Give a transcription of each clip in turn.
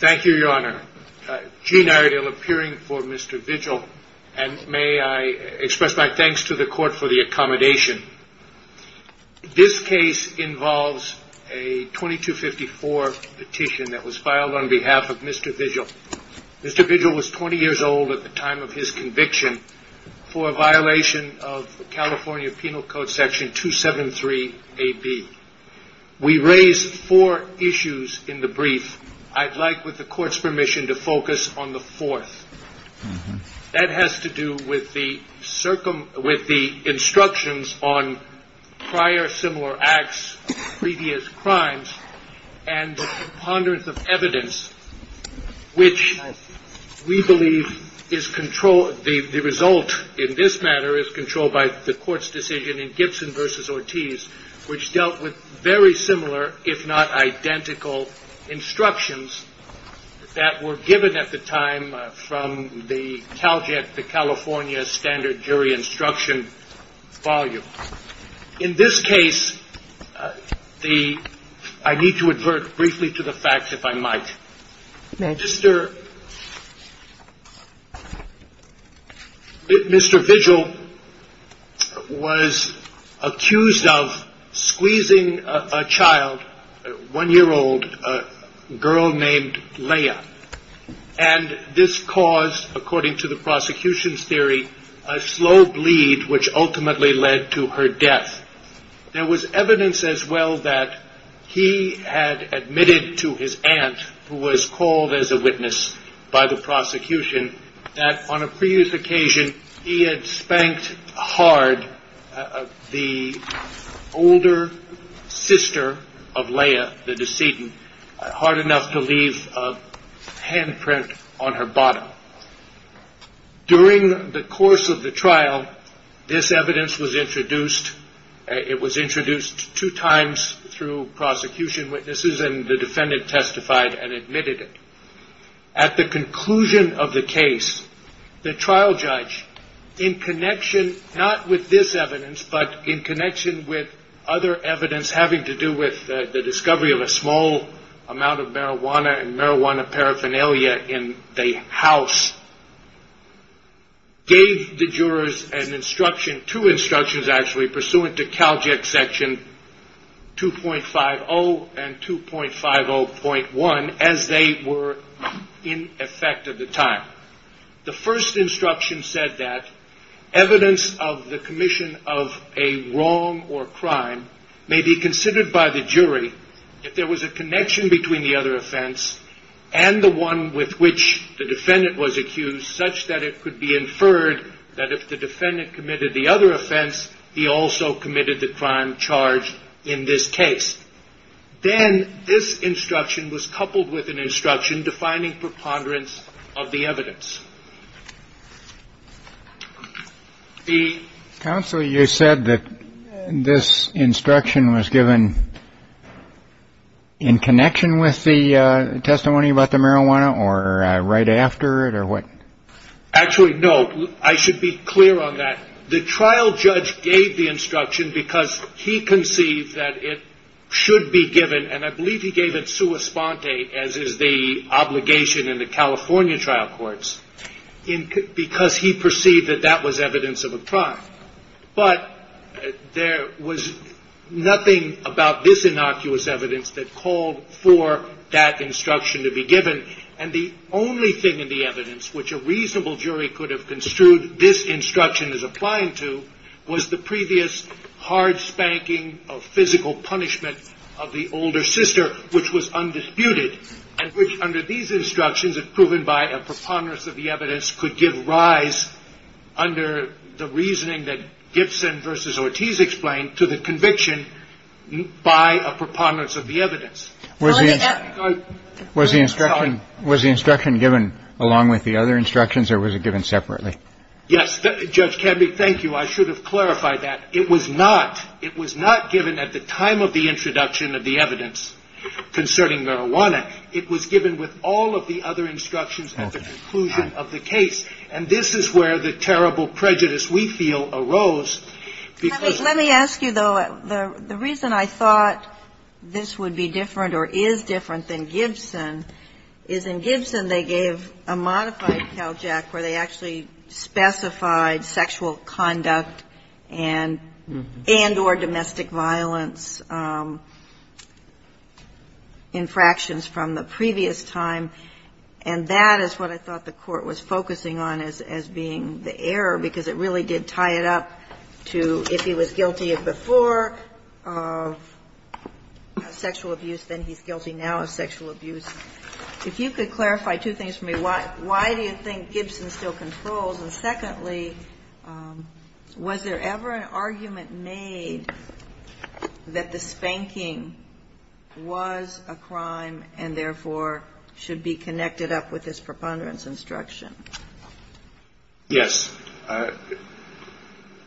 Thank you, your honor. Gene Iredale appearing for Mr. Vigil, and may I express my thanks to the court for the accommodation. This case involves a 2254 petition that was filed on behalf of Mr. Vigil. Mr. Vigil was 20 years old at the time of his conviction for a violation of California Penal Code Section 273AB. We raised four issues in the brief. I'd like, with the court's permission, to focus on the fourth. That has to do with the instructions on prior similar acts, previous crimes, and the ponderance of evidence, which we believe is controlled. The result in this matter is controlled by the court's decision in Gibson v. Ortiz, which dealt with very similar, if not identical, instructions that were given at the time from the CalJet, the California Standard Jury Instruction volume. In this case, I need to advert briefly to the facts, if I might. Mr. Vigil was accused of squeezing a child, a one-year-old girl named Leah, and this caused, according to the prosecution's theory, a slow bleed, which ultimately led to her death. There was evidence as well that he had admitted to his aunt, who was called as a witness by the prosecution, that on a previous occasion he had spanked hard the older sister of Leah, the decedent, hard enough to leave a handprint on her bottom. During the course of the trial, this evidence was introduced. It was introduced two times through prosecution witnesses, and the defendant testified and admitted it. At the conclusion of the case, the trial judge, in connection not with this evidence, but in connection with other evidence having to do with the discovery of a small amount of marijuana and marijuana paraphernalia in the house, gave the jurors two instructions, actually, pursuant to CalJet section 2.50 and 2.50.1, as they were in effect at the time. The first instruction said that evidence of the commission of a wrong or crime may be considered by the jury if there was a connection between the other offense and the one with which the defendant was accused, such that it could be inferred that if the defendant committed the other offense, he also committed the crime charged in this case. Then this instruction was coupled with an instruction defining preponderance of the evidence. The counsel, you said that this instruction was given in connection with the testimony about the marijuana or right after it or what? Actually, no, I should be clear on that. The trial judge gave the instruction because he conceived that it should be given, and I believe he gave it sua sponte, as is the obligation in the California trial courts, because he perceived that that was evidence of a crime. But there was nothing about this innocuous evidence that called for that instruction to be given. And the only thing in the evidence which a reasonable jury could have construed this instruction as applying to was the previous hard spanking of physical punishment of the older sister, which was undisputed, and which under these instructions, if proven by a preponderance of the evidence, could give rise under the reasoning that Gibson versus Ortiz explained to the conviction by a preponderance of the evidence. Was the instruction was the instruction given along with the other instructions or was it given separately? Yes. Judge Kennedy, thank you. I should have clarified that it was not. It was not given at the time of the introduction of the evidence concerning marijuana. It was given with all of the other instructions at the conclusion of the case. And this is where the terrible prejudice we feel arose. Let me ask you, though. The reason I thought this would be different or is different than Gibson is in Gibson they gave a modified CALJAC where they actually specified sexual conduct and or domestic violence infractions from the previous time, and that is what I thought the Court was focusing on as being the error because it really did tie it up to if he was guilty before of sexual abuse, then he's guilty now of sexual abuse. If you could clarify two things for me. Why do you think Gibson still controls? And secondly, was there ever an argument made that the spanking was a crime and therefore should be connected up with this preponderance instruction? Yes.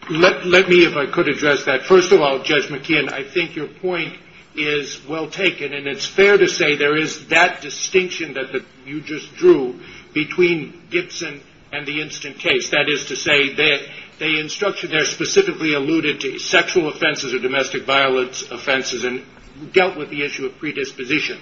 Let me, if I could, address that. First of all, Judge McKeon, I think your point is well taken, and it's fair to say there is that distinction that you just drew between Gibson and the instant case. That is to say the instruction there specifically alluded to sexual offenses or domestic violence offenses and dealt with the issue of predisposition.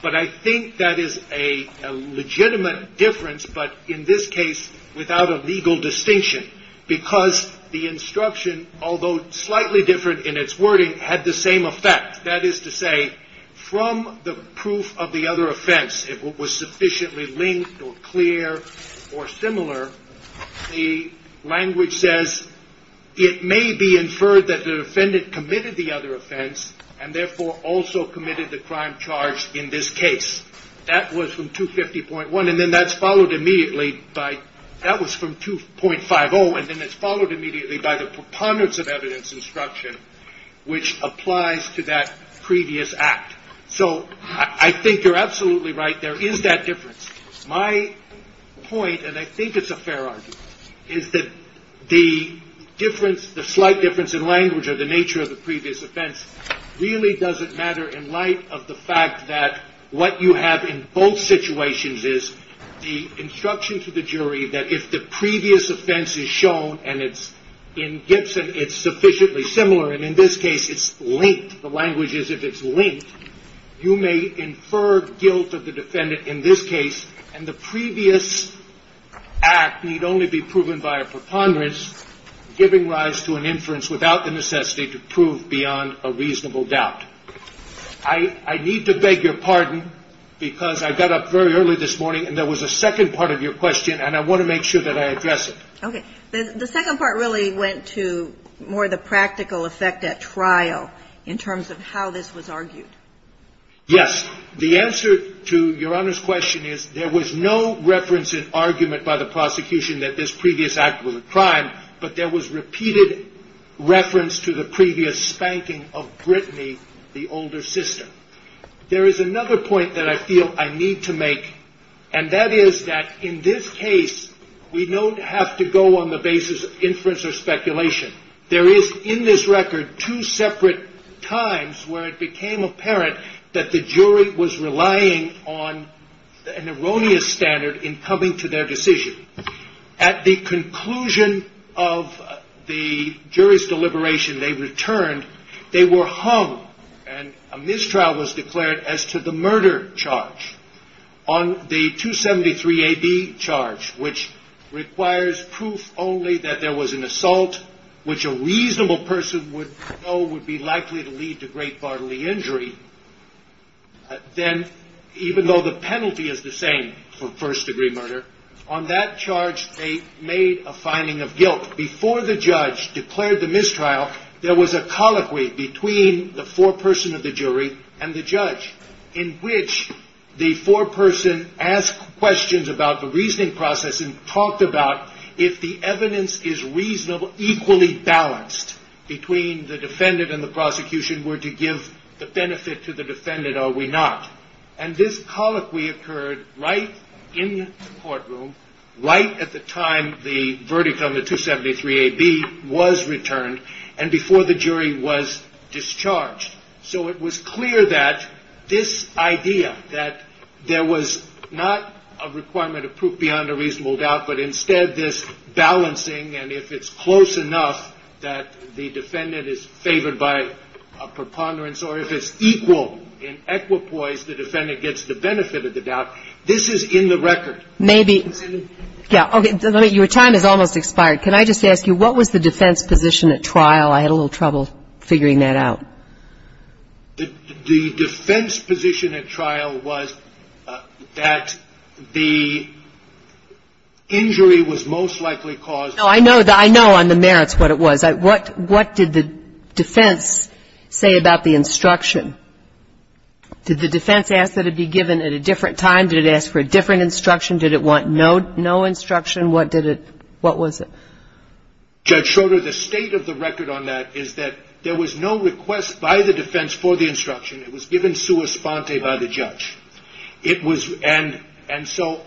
But I think that is a legitimate difference, but in this case without a legal distinction because the instruction, although slightly different in its wording, had the same effect. That is to say, from the proof of the other offense, if it was sufficiently linked or clear or similar, the language says it may be inferred that the defendant committed the other offense and therefore also committed the crime charged in this case. That was from 250.1, and then that's followed immediately by, that was from 2.50, and then it's followed immediately by the preponderance of evidence instruction, which applies to that previous act. So I think you're absolutely right. There is that difference. My point, and I think it's a fair argument, is that the difference, the slight difference in language or the nature of the previous offense really doesn't matter in light of the fact that what you have in both situations is the instruction to the jury that if the previous offense is shown and it's in Gibson, it's sufficiently similar, and in this case it's linked. The language is if it's linked, you may infer guilt of the defendant in this case, and the previous act need only be proven by a preponderance giving rise to an inference without the necessity to prove beyond a reasonable doubt. I need to beg your pardon because I got up very early this morning and there was a second part of your question and I want to make sure that I address it. Okay. The second part really went to more the practical effect at trial in terms of how this was argued. Yes. The answer to Your Honor's question is there was no reference in argument by the prosecution that this previous act was a crime, but there was repeated reference to the previous spanking of Brittany, the older sister. There is another point that I feel I need to make, and that is that in this case, we don't have to go on the basis of inference or speculation. There is in this record two separate times where it became apparent that the jury was relying on an erroneous standard in coming to their decision. At the conclusion of the jury's deliberation, they returned. They were hung, and a mistrial was declared as to the murder charge on the 273AB charge, which requires proof only that there was an assault which a reasonable person would know would be likely to lead to great bodily injury. Then, even though the penalty is the same for first-degree murder, on that charge they made a finding of guilt. Before the judge declared the mistrial, there was a colloquy between the foreperson of the jury and the judge in which the foreperson asked questions about the reasoning process and talked about if the evidence is equally balanced between the defendant and the prosecution, were to give the benefit to the defendant or were not. This colloquy occurred right in the courtroom, right at the time the verdict on the 273AB was returned, and before the jury was discharged. So it was clear that this idea that there was not a requirement of proof beyond a reasonable doubt, but instead this balancing, and if it's close enough that the defendant is favored by a preponderance or if it's equal in equipoise, the defendant gets the benefit of the doubt, this is in the record. Maybe. Yeah, okay. Your time has almost expired. Well, I had a little trouble figuring that out. The defense position at trial was that the injury was most likely caused by the defendant. No, I know on the merits what it was. What did the defense say about the instruction? Did the defense ask that it be given at a different time? Did it ask for a different instruction? Did it want no instruction? What did it ñ what was it? Judge Schroeder, the state of the record on that is that there was no request by the defense for the instruction. It was given sua sponte by the judge. It was ñ and so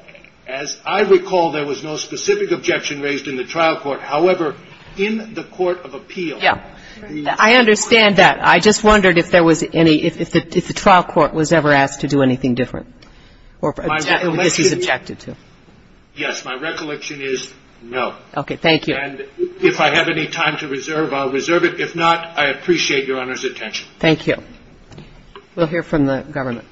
as I recall, there was no specific objection raised in the trial court. However, in the court of appeal ñ Yeah. I understand that. I just wondered if there was any ñ if the trial court was ever asked to do anything different, or if this was objected to. Yes. My recollection is no. Okay. Thank you. And if I have any time to reserve, I'll reserve it. If not, I appreciate Your Honor's attention. Thank you. We'll hear from the government.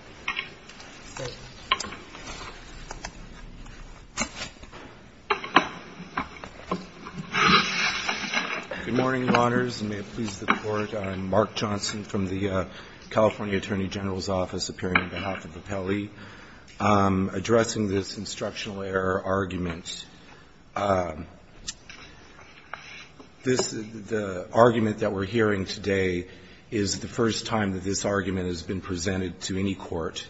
Good morning, Your Honors, and may it please the Court. I'm Mark Johnson from the California Attorney General's Office, appearing on behalf of Appellee, addressing this instructional error argument. This ñ the argument that we're hearing today is the first time that this argument has been presented to any court.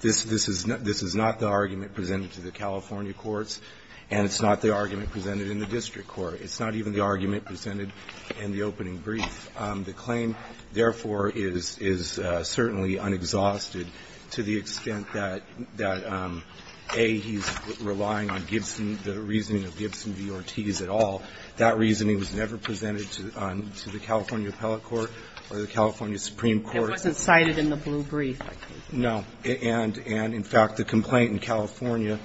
This is not the argument presented to the California courts, and it's not the argument presented in the district court. It's not even the argument presented in the opening brief. The claim, therefore, is certainly unexhausted to the extent that, A, he's relying on Gibson, the reasoning of Gibson v. Ortiz at all. That reasoning was never presented to the California appellate court or the California supreme court. It wasn't cited in the blue brief. No. And, in fact, the complaint in California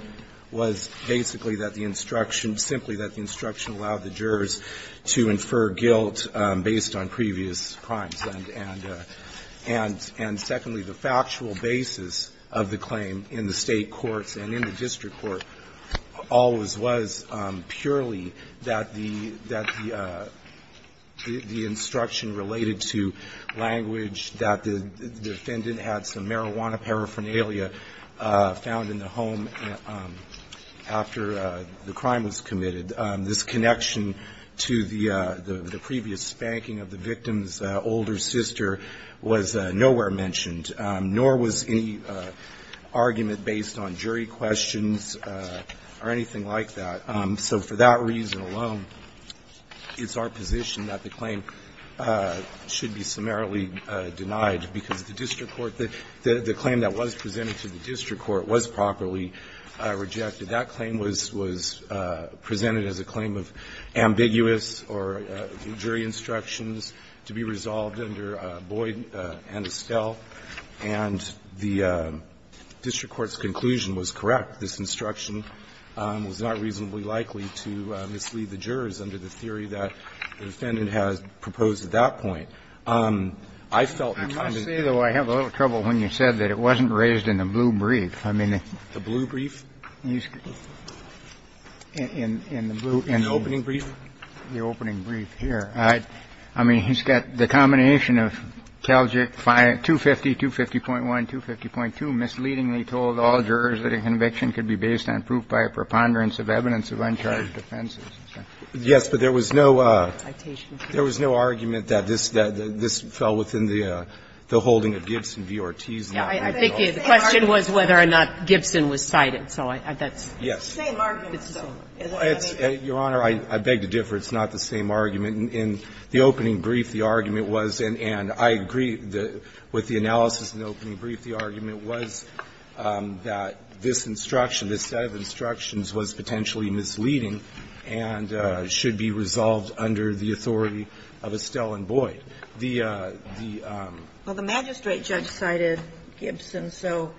was basically that the instruction ñ simply that the instruction allowed the jurors to infer guilt based on previous crimes. And secondly, the factual basis of the claim in the State courts and in the district court always was purely that the instruction related to language that the defendant had some marijuana paraphernalia found in the home after the crime was committed This connection to the previous spanking of the victim's older sister was nowhere mentioned, nor was any argument based on jury questions or anything like that. So for that reason alone, it's our position that the claim should be summarily denied because the district court ñ the claim that was presented to the district court was properly rejected. That claim was presented as a claim of ambiguous or jury instructions to be resolved under Boyd and Estelle, and the district court's conclusion was correct. This instruction was not reasonably likely to mislead the jurors under the theory that the defendant had proposed at that point. I felt the defendant ñ I must say, though, I have a little trouble when you said that it wasn't raised in the blue brief. I mean ñ The blue brief? In the blue ñ In the opening brief? In the opening brief, here. I mean, he's got the combination of Calgic 250, 250.1, 250.2, misleadingly told all jurors that a conviction could be based on proof by a preponderance of evidence of uncharged offenses. Yes, but there was no ñ there was no argument that this fell within the holding of Gibson v. Ortiz. I think the question was whether or not Gibson was cited, so that's ñ Yes. It's the same argument. Your Honor, I beg to differ. It's not the same argument. In the opening brief, the argument was, and I agree with the analysis in the opening brief, the argument was that this instruction, this set of instructions was potentially misleading and should be resolved under the authority of Estelle and Boyd. The ñ the ñ Well, the magistrate judge cited Gibson, so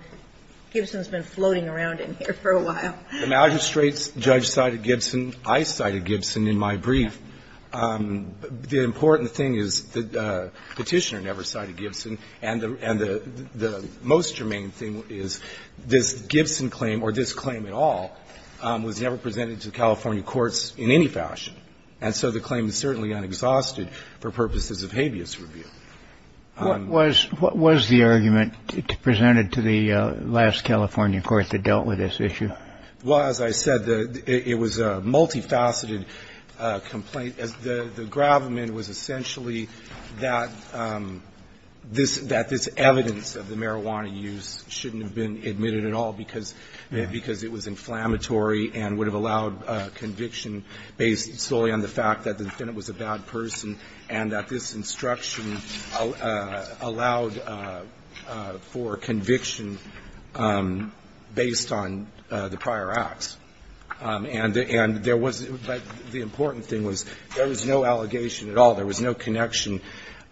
Gibson's been floating around in here for a while. The magistrate's judge cited Gibson. I cited Gibson in my brief. The important thing is the Petitioner never cited Gibson, and the most germane thing is this Gibson claim, or this claim at all, was never presented to the California courts in any fashion. And so the claim is certainly unexhausted for purposes of habeas review. What was ñ what was the argument presented to the last California court that dealt with this issue? Well, as I said, the ñ it was a multifaceted complaint. The gravamen was essentially that this ñ that this evidence of the marijuana use shouldn't have been admitted at all because ñ because it was inflammatory and would have allowed conviction based solely on the fact that the defendant was a bad person and that this instruction allowed for conviction based on the prior acts. And there was ñ but the important thing was there was no allegation at all. There was no connection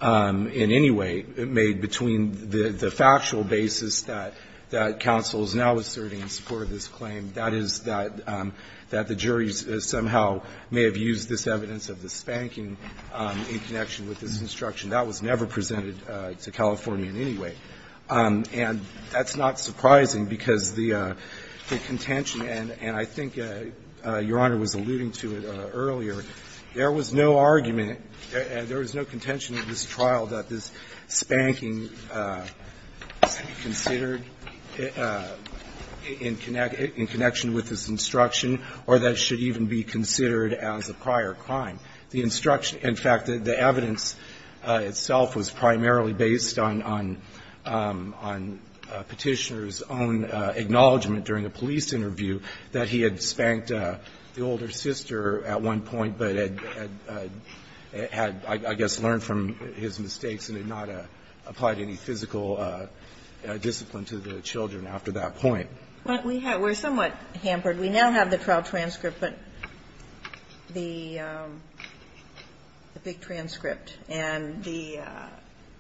in any way made between the ñ the factual basis that ñ that counsel is now asserting in support of this claim. That is, that ñ that the juries somehow may have used this evidence of the spanking in connection with this instruction. That was never presented to California in any way. And that's not surprising because the ñ the contention, and I think Your Honor was alluding to it earlier, there was no argument, there was no contention in this trial that this spanking should be considered in ñ in connection with this instruction or that it should even be considered as a prior crime. The instruction ñ in fact, the evidence itself was primarily based on ñ on Petitioner's own acknowledgment during a police interview that he had spanked the older sister at one point, but had ñ had, I guess, learned from his mistakes and had not applied any physical discipline to the children after that point. But we have ñ we're somewhat hampered. We now have the trial transcript, but the big transcript, and the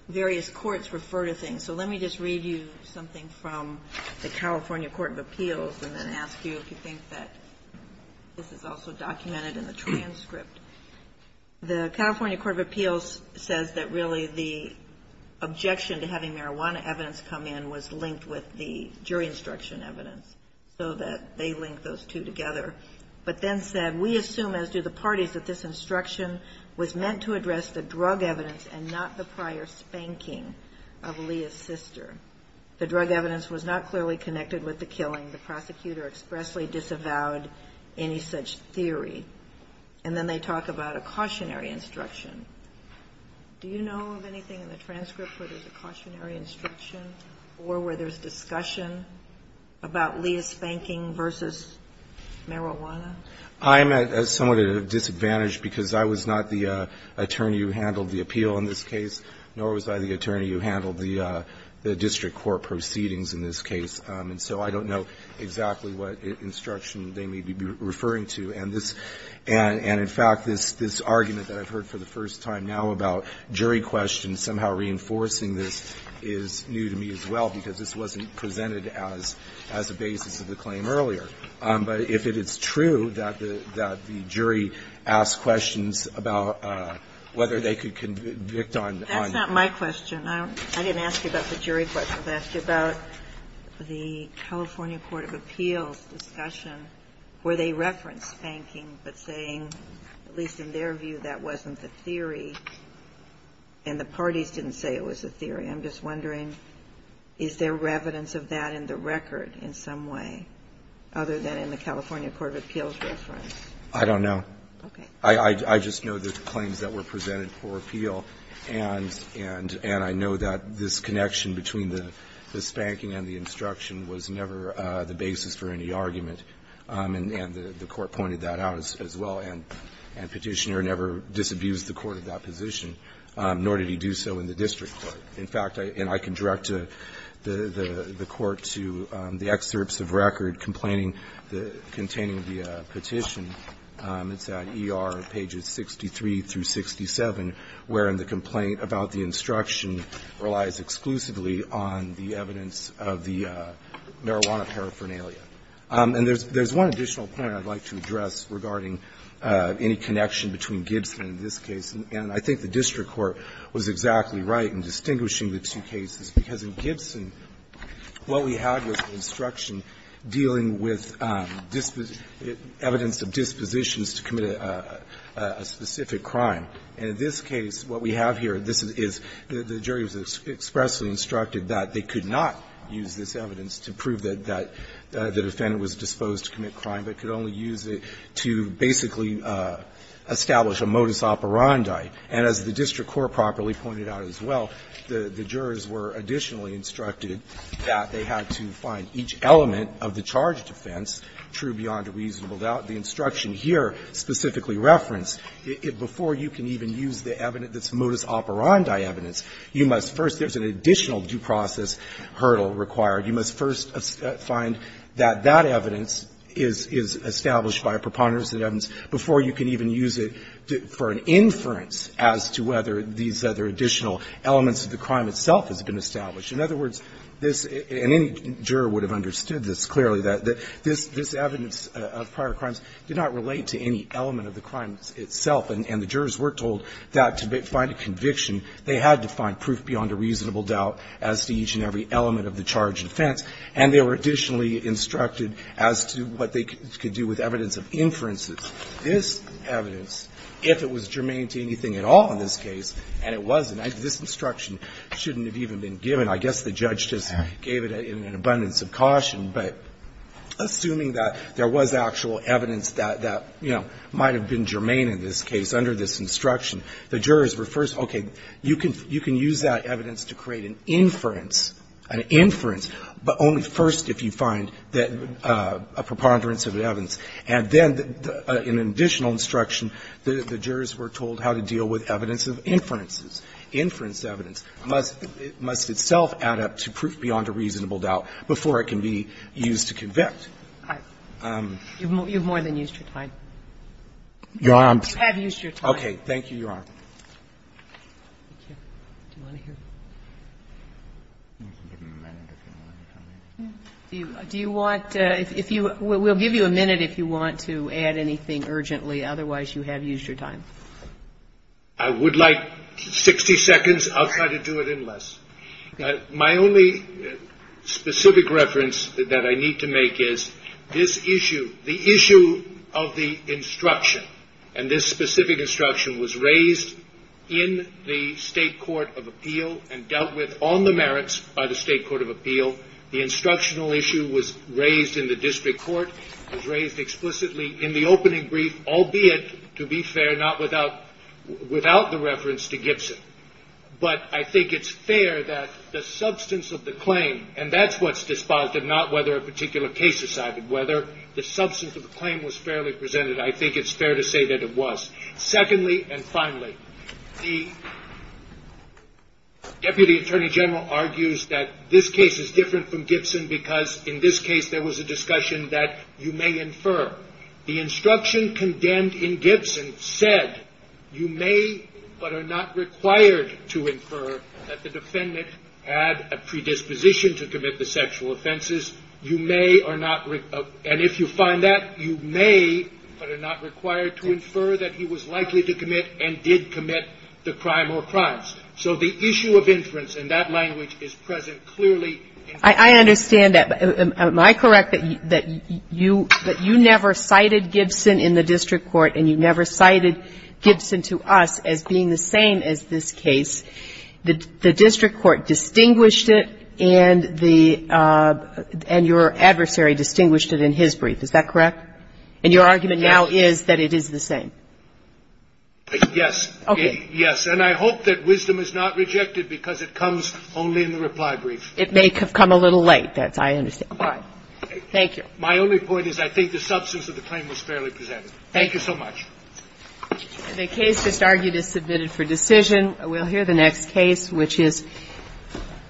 various courts refer to things. So let me just read you something from the California Court of Appeals and then ask you if you think that this is also documented in the transcript. The California Court of Appeals says that really the objection to having marijuana evidence come in was linked with the jury instruction evidence, so that they link those two together. But then said, we assume, as do the parties, that this instruction was meant to address the drug evidence and not the prior spanking of Leah's sister. The drug evidence was not clearly connected with the killing. The prosecutor expressly disavowed any such theory. And then they talk about a cautionary instruction. Do you know of anything in the transcript where there's a cautionary instruction or where there's discussion about Leah spanking versus marijuana? I'm at ñ somewhat at a disadvantage because I was not the attorney who handled the appeal in this case, nor was I the attorney who handled the district court proceedings in this case. And so I don't know exactly what instruction they may be referring to. And this ñ and in fact, this argument that I've heard for the first time now about jury questions somehow reinforcing this is new to me as well, because this wasn't presented as a basis of the claim earlier. But if it is true that the jury asked questions about whether they could convict on ñ That's not my question. I didn't ask you about the jury question. I asked you about the California Court of Appeals discussion where they referenced spanking, but saying, at least in their view, that wasn't the theory, and the parties didn't say it was a theory. I'm just wondering, is there evidence of that in the record in some way, other than in the California Court of Appeals reference? I don't know. Okay. I just know the claims that were presented for appeal, and I know that this connection between the spanking and the instruction was never the basis for any argument. And the Court pointed that out as well, and Petitioner never disabused the court of that position, nor did he do so in the district court. In fact, and I can direct the court to the excerpts of record complaining the ñ containing the petition. It's at ER pages 63 through 67, wherein the complaint about the instruction relies exclusively on the evidence of the marijuana paraphernalia. And there's one additional point I'd like to address regarding any connection between Gibson and this case, and I think the district court was exactly right in distinguishing the two cases, because in Gibson, what we had was an instruction dealing with evidence of dispositions to commit a specific crime. And in this case, what we have here, this is ñ the jury was expressly instructed that they could not use this evidence to prove that the defendant was disposed to commit crime, but could only use it to basically establish a modus operandi. And as the district court properly pointed out as well, the jurors were additionally instructed that they had to find each element of the charge defense true beyond a reasonable doubt. The instruction here specifically referenced, before you can even use the evidence that's modus operandi evidence, you must first ñ there's an additional due process hurdle required. You must first find that that evidence is established by a preponderance of evidence before you can even use it for an inference as to whether these other additional elements of the crime itself has been established. In other words, this ñ and any juror would have understood this clearly, that this evidence of prior crimes did not relate to any element of the crime itself, and the jurors were told that to find a conviction, they had to find proof beyond a reasonable doubt as to each and every element of the charge defense. And they were additionally instructed as to what they could do with evidence of inferences. This evidence, if it was germane to anything at all in this case, and it wasn't, this instruction shouldn't have even been given. I guess the judge just gave it in an abundance of caution. But assuming that there was actual evidence that, you know, might have been germane in this case under this instruction, the jurors were first, okay, you can use that evidence to create an inference, an inference, but only first if you find that a preponderance of evidence. And then in an additional instruction, the jurors were told how to deal with evidence of inferences. Inference evidence must itself add up to proof beyond a reasonable doubt before it can be used to convict. Kagan. You've more than used your time. You have used your time. Okay. Thank you, Your Honor. Do you want to hear? Do you want to, if you, we'll give you a minute if you want to add anything urgently. Otherwise, you have used your time. I would like 60 seconds. I'll try to do it in less. My only specific reference that I need to make is this issue, the issue of the instruction, and this specific instruction was raised in the State Court of Appeal and dealt with on the merits by the State Court of Appeal. The instructional issue was raised in the district court, was raised explicitly in the opening brief, albeit, to be fair, not without the reference to Gibson. But I think it's fair that the substance of the claim, and that's what's despised and not whether a particular case decided whether the substance of the claim was fairly presented. I think it's fair to say that it was. Secondly, and finally, the Deputy Attorney General argues that this case is different from Gibson because in this case there was a discussion that you may infer. The instruction condemned in Gibson said you may but are not required to infer that the defendant had a predisposition to commit the sexual offenses. You may or not, and if you find that, you may but are not required to infer that he was likely to commit and did commit the crime or crimes. So the issue of inference in that language is present clearly. I understand that. Am I correct that you never cited Gibson in the district court and you never cited Gibson to us as being the same as this case? The district court distinguished it and the – and your adversary distinguished it in his brief. Is that correct? And your argument now is that it is the same? Yes. Okay. Yes. And I hope that wisdom is not rejected because it comes only in the reply brief. It may have come a little late. That's why I understand. All right. Thank you. My only point is I think the substance of the claim was fairly presented. Thank you so much. The case just argued is submitted for decision. We'll hear the next case, which is –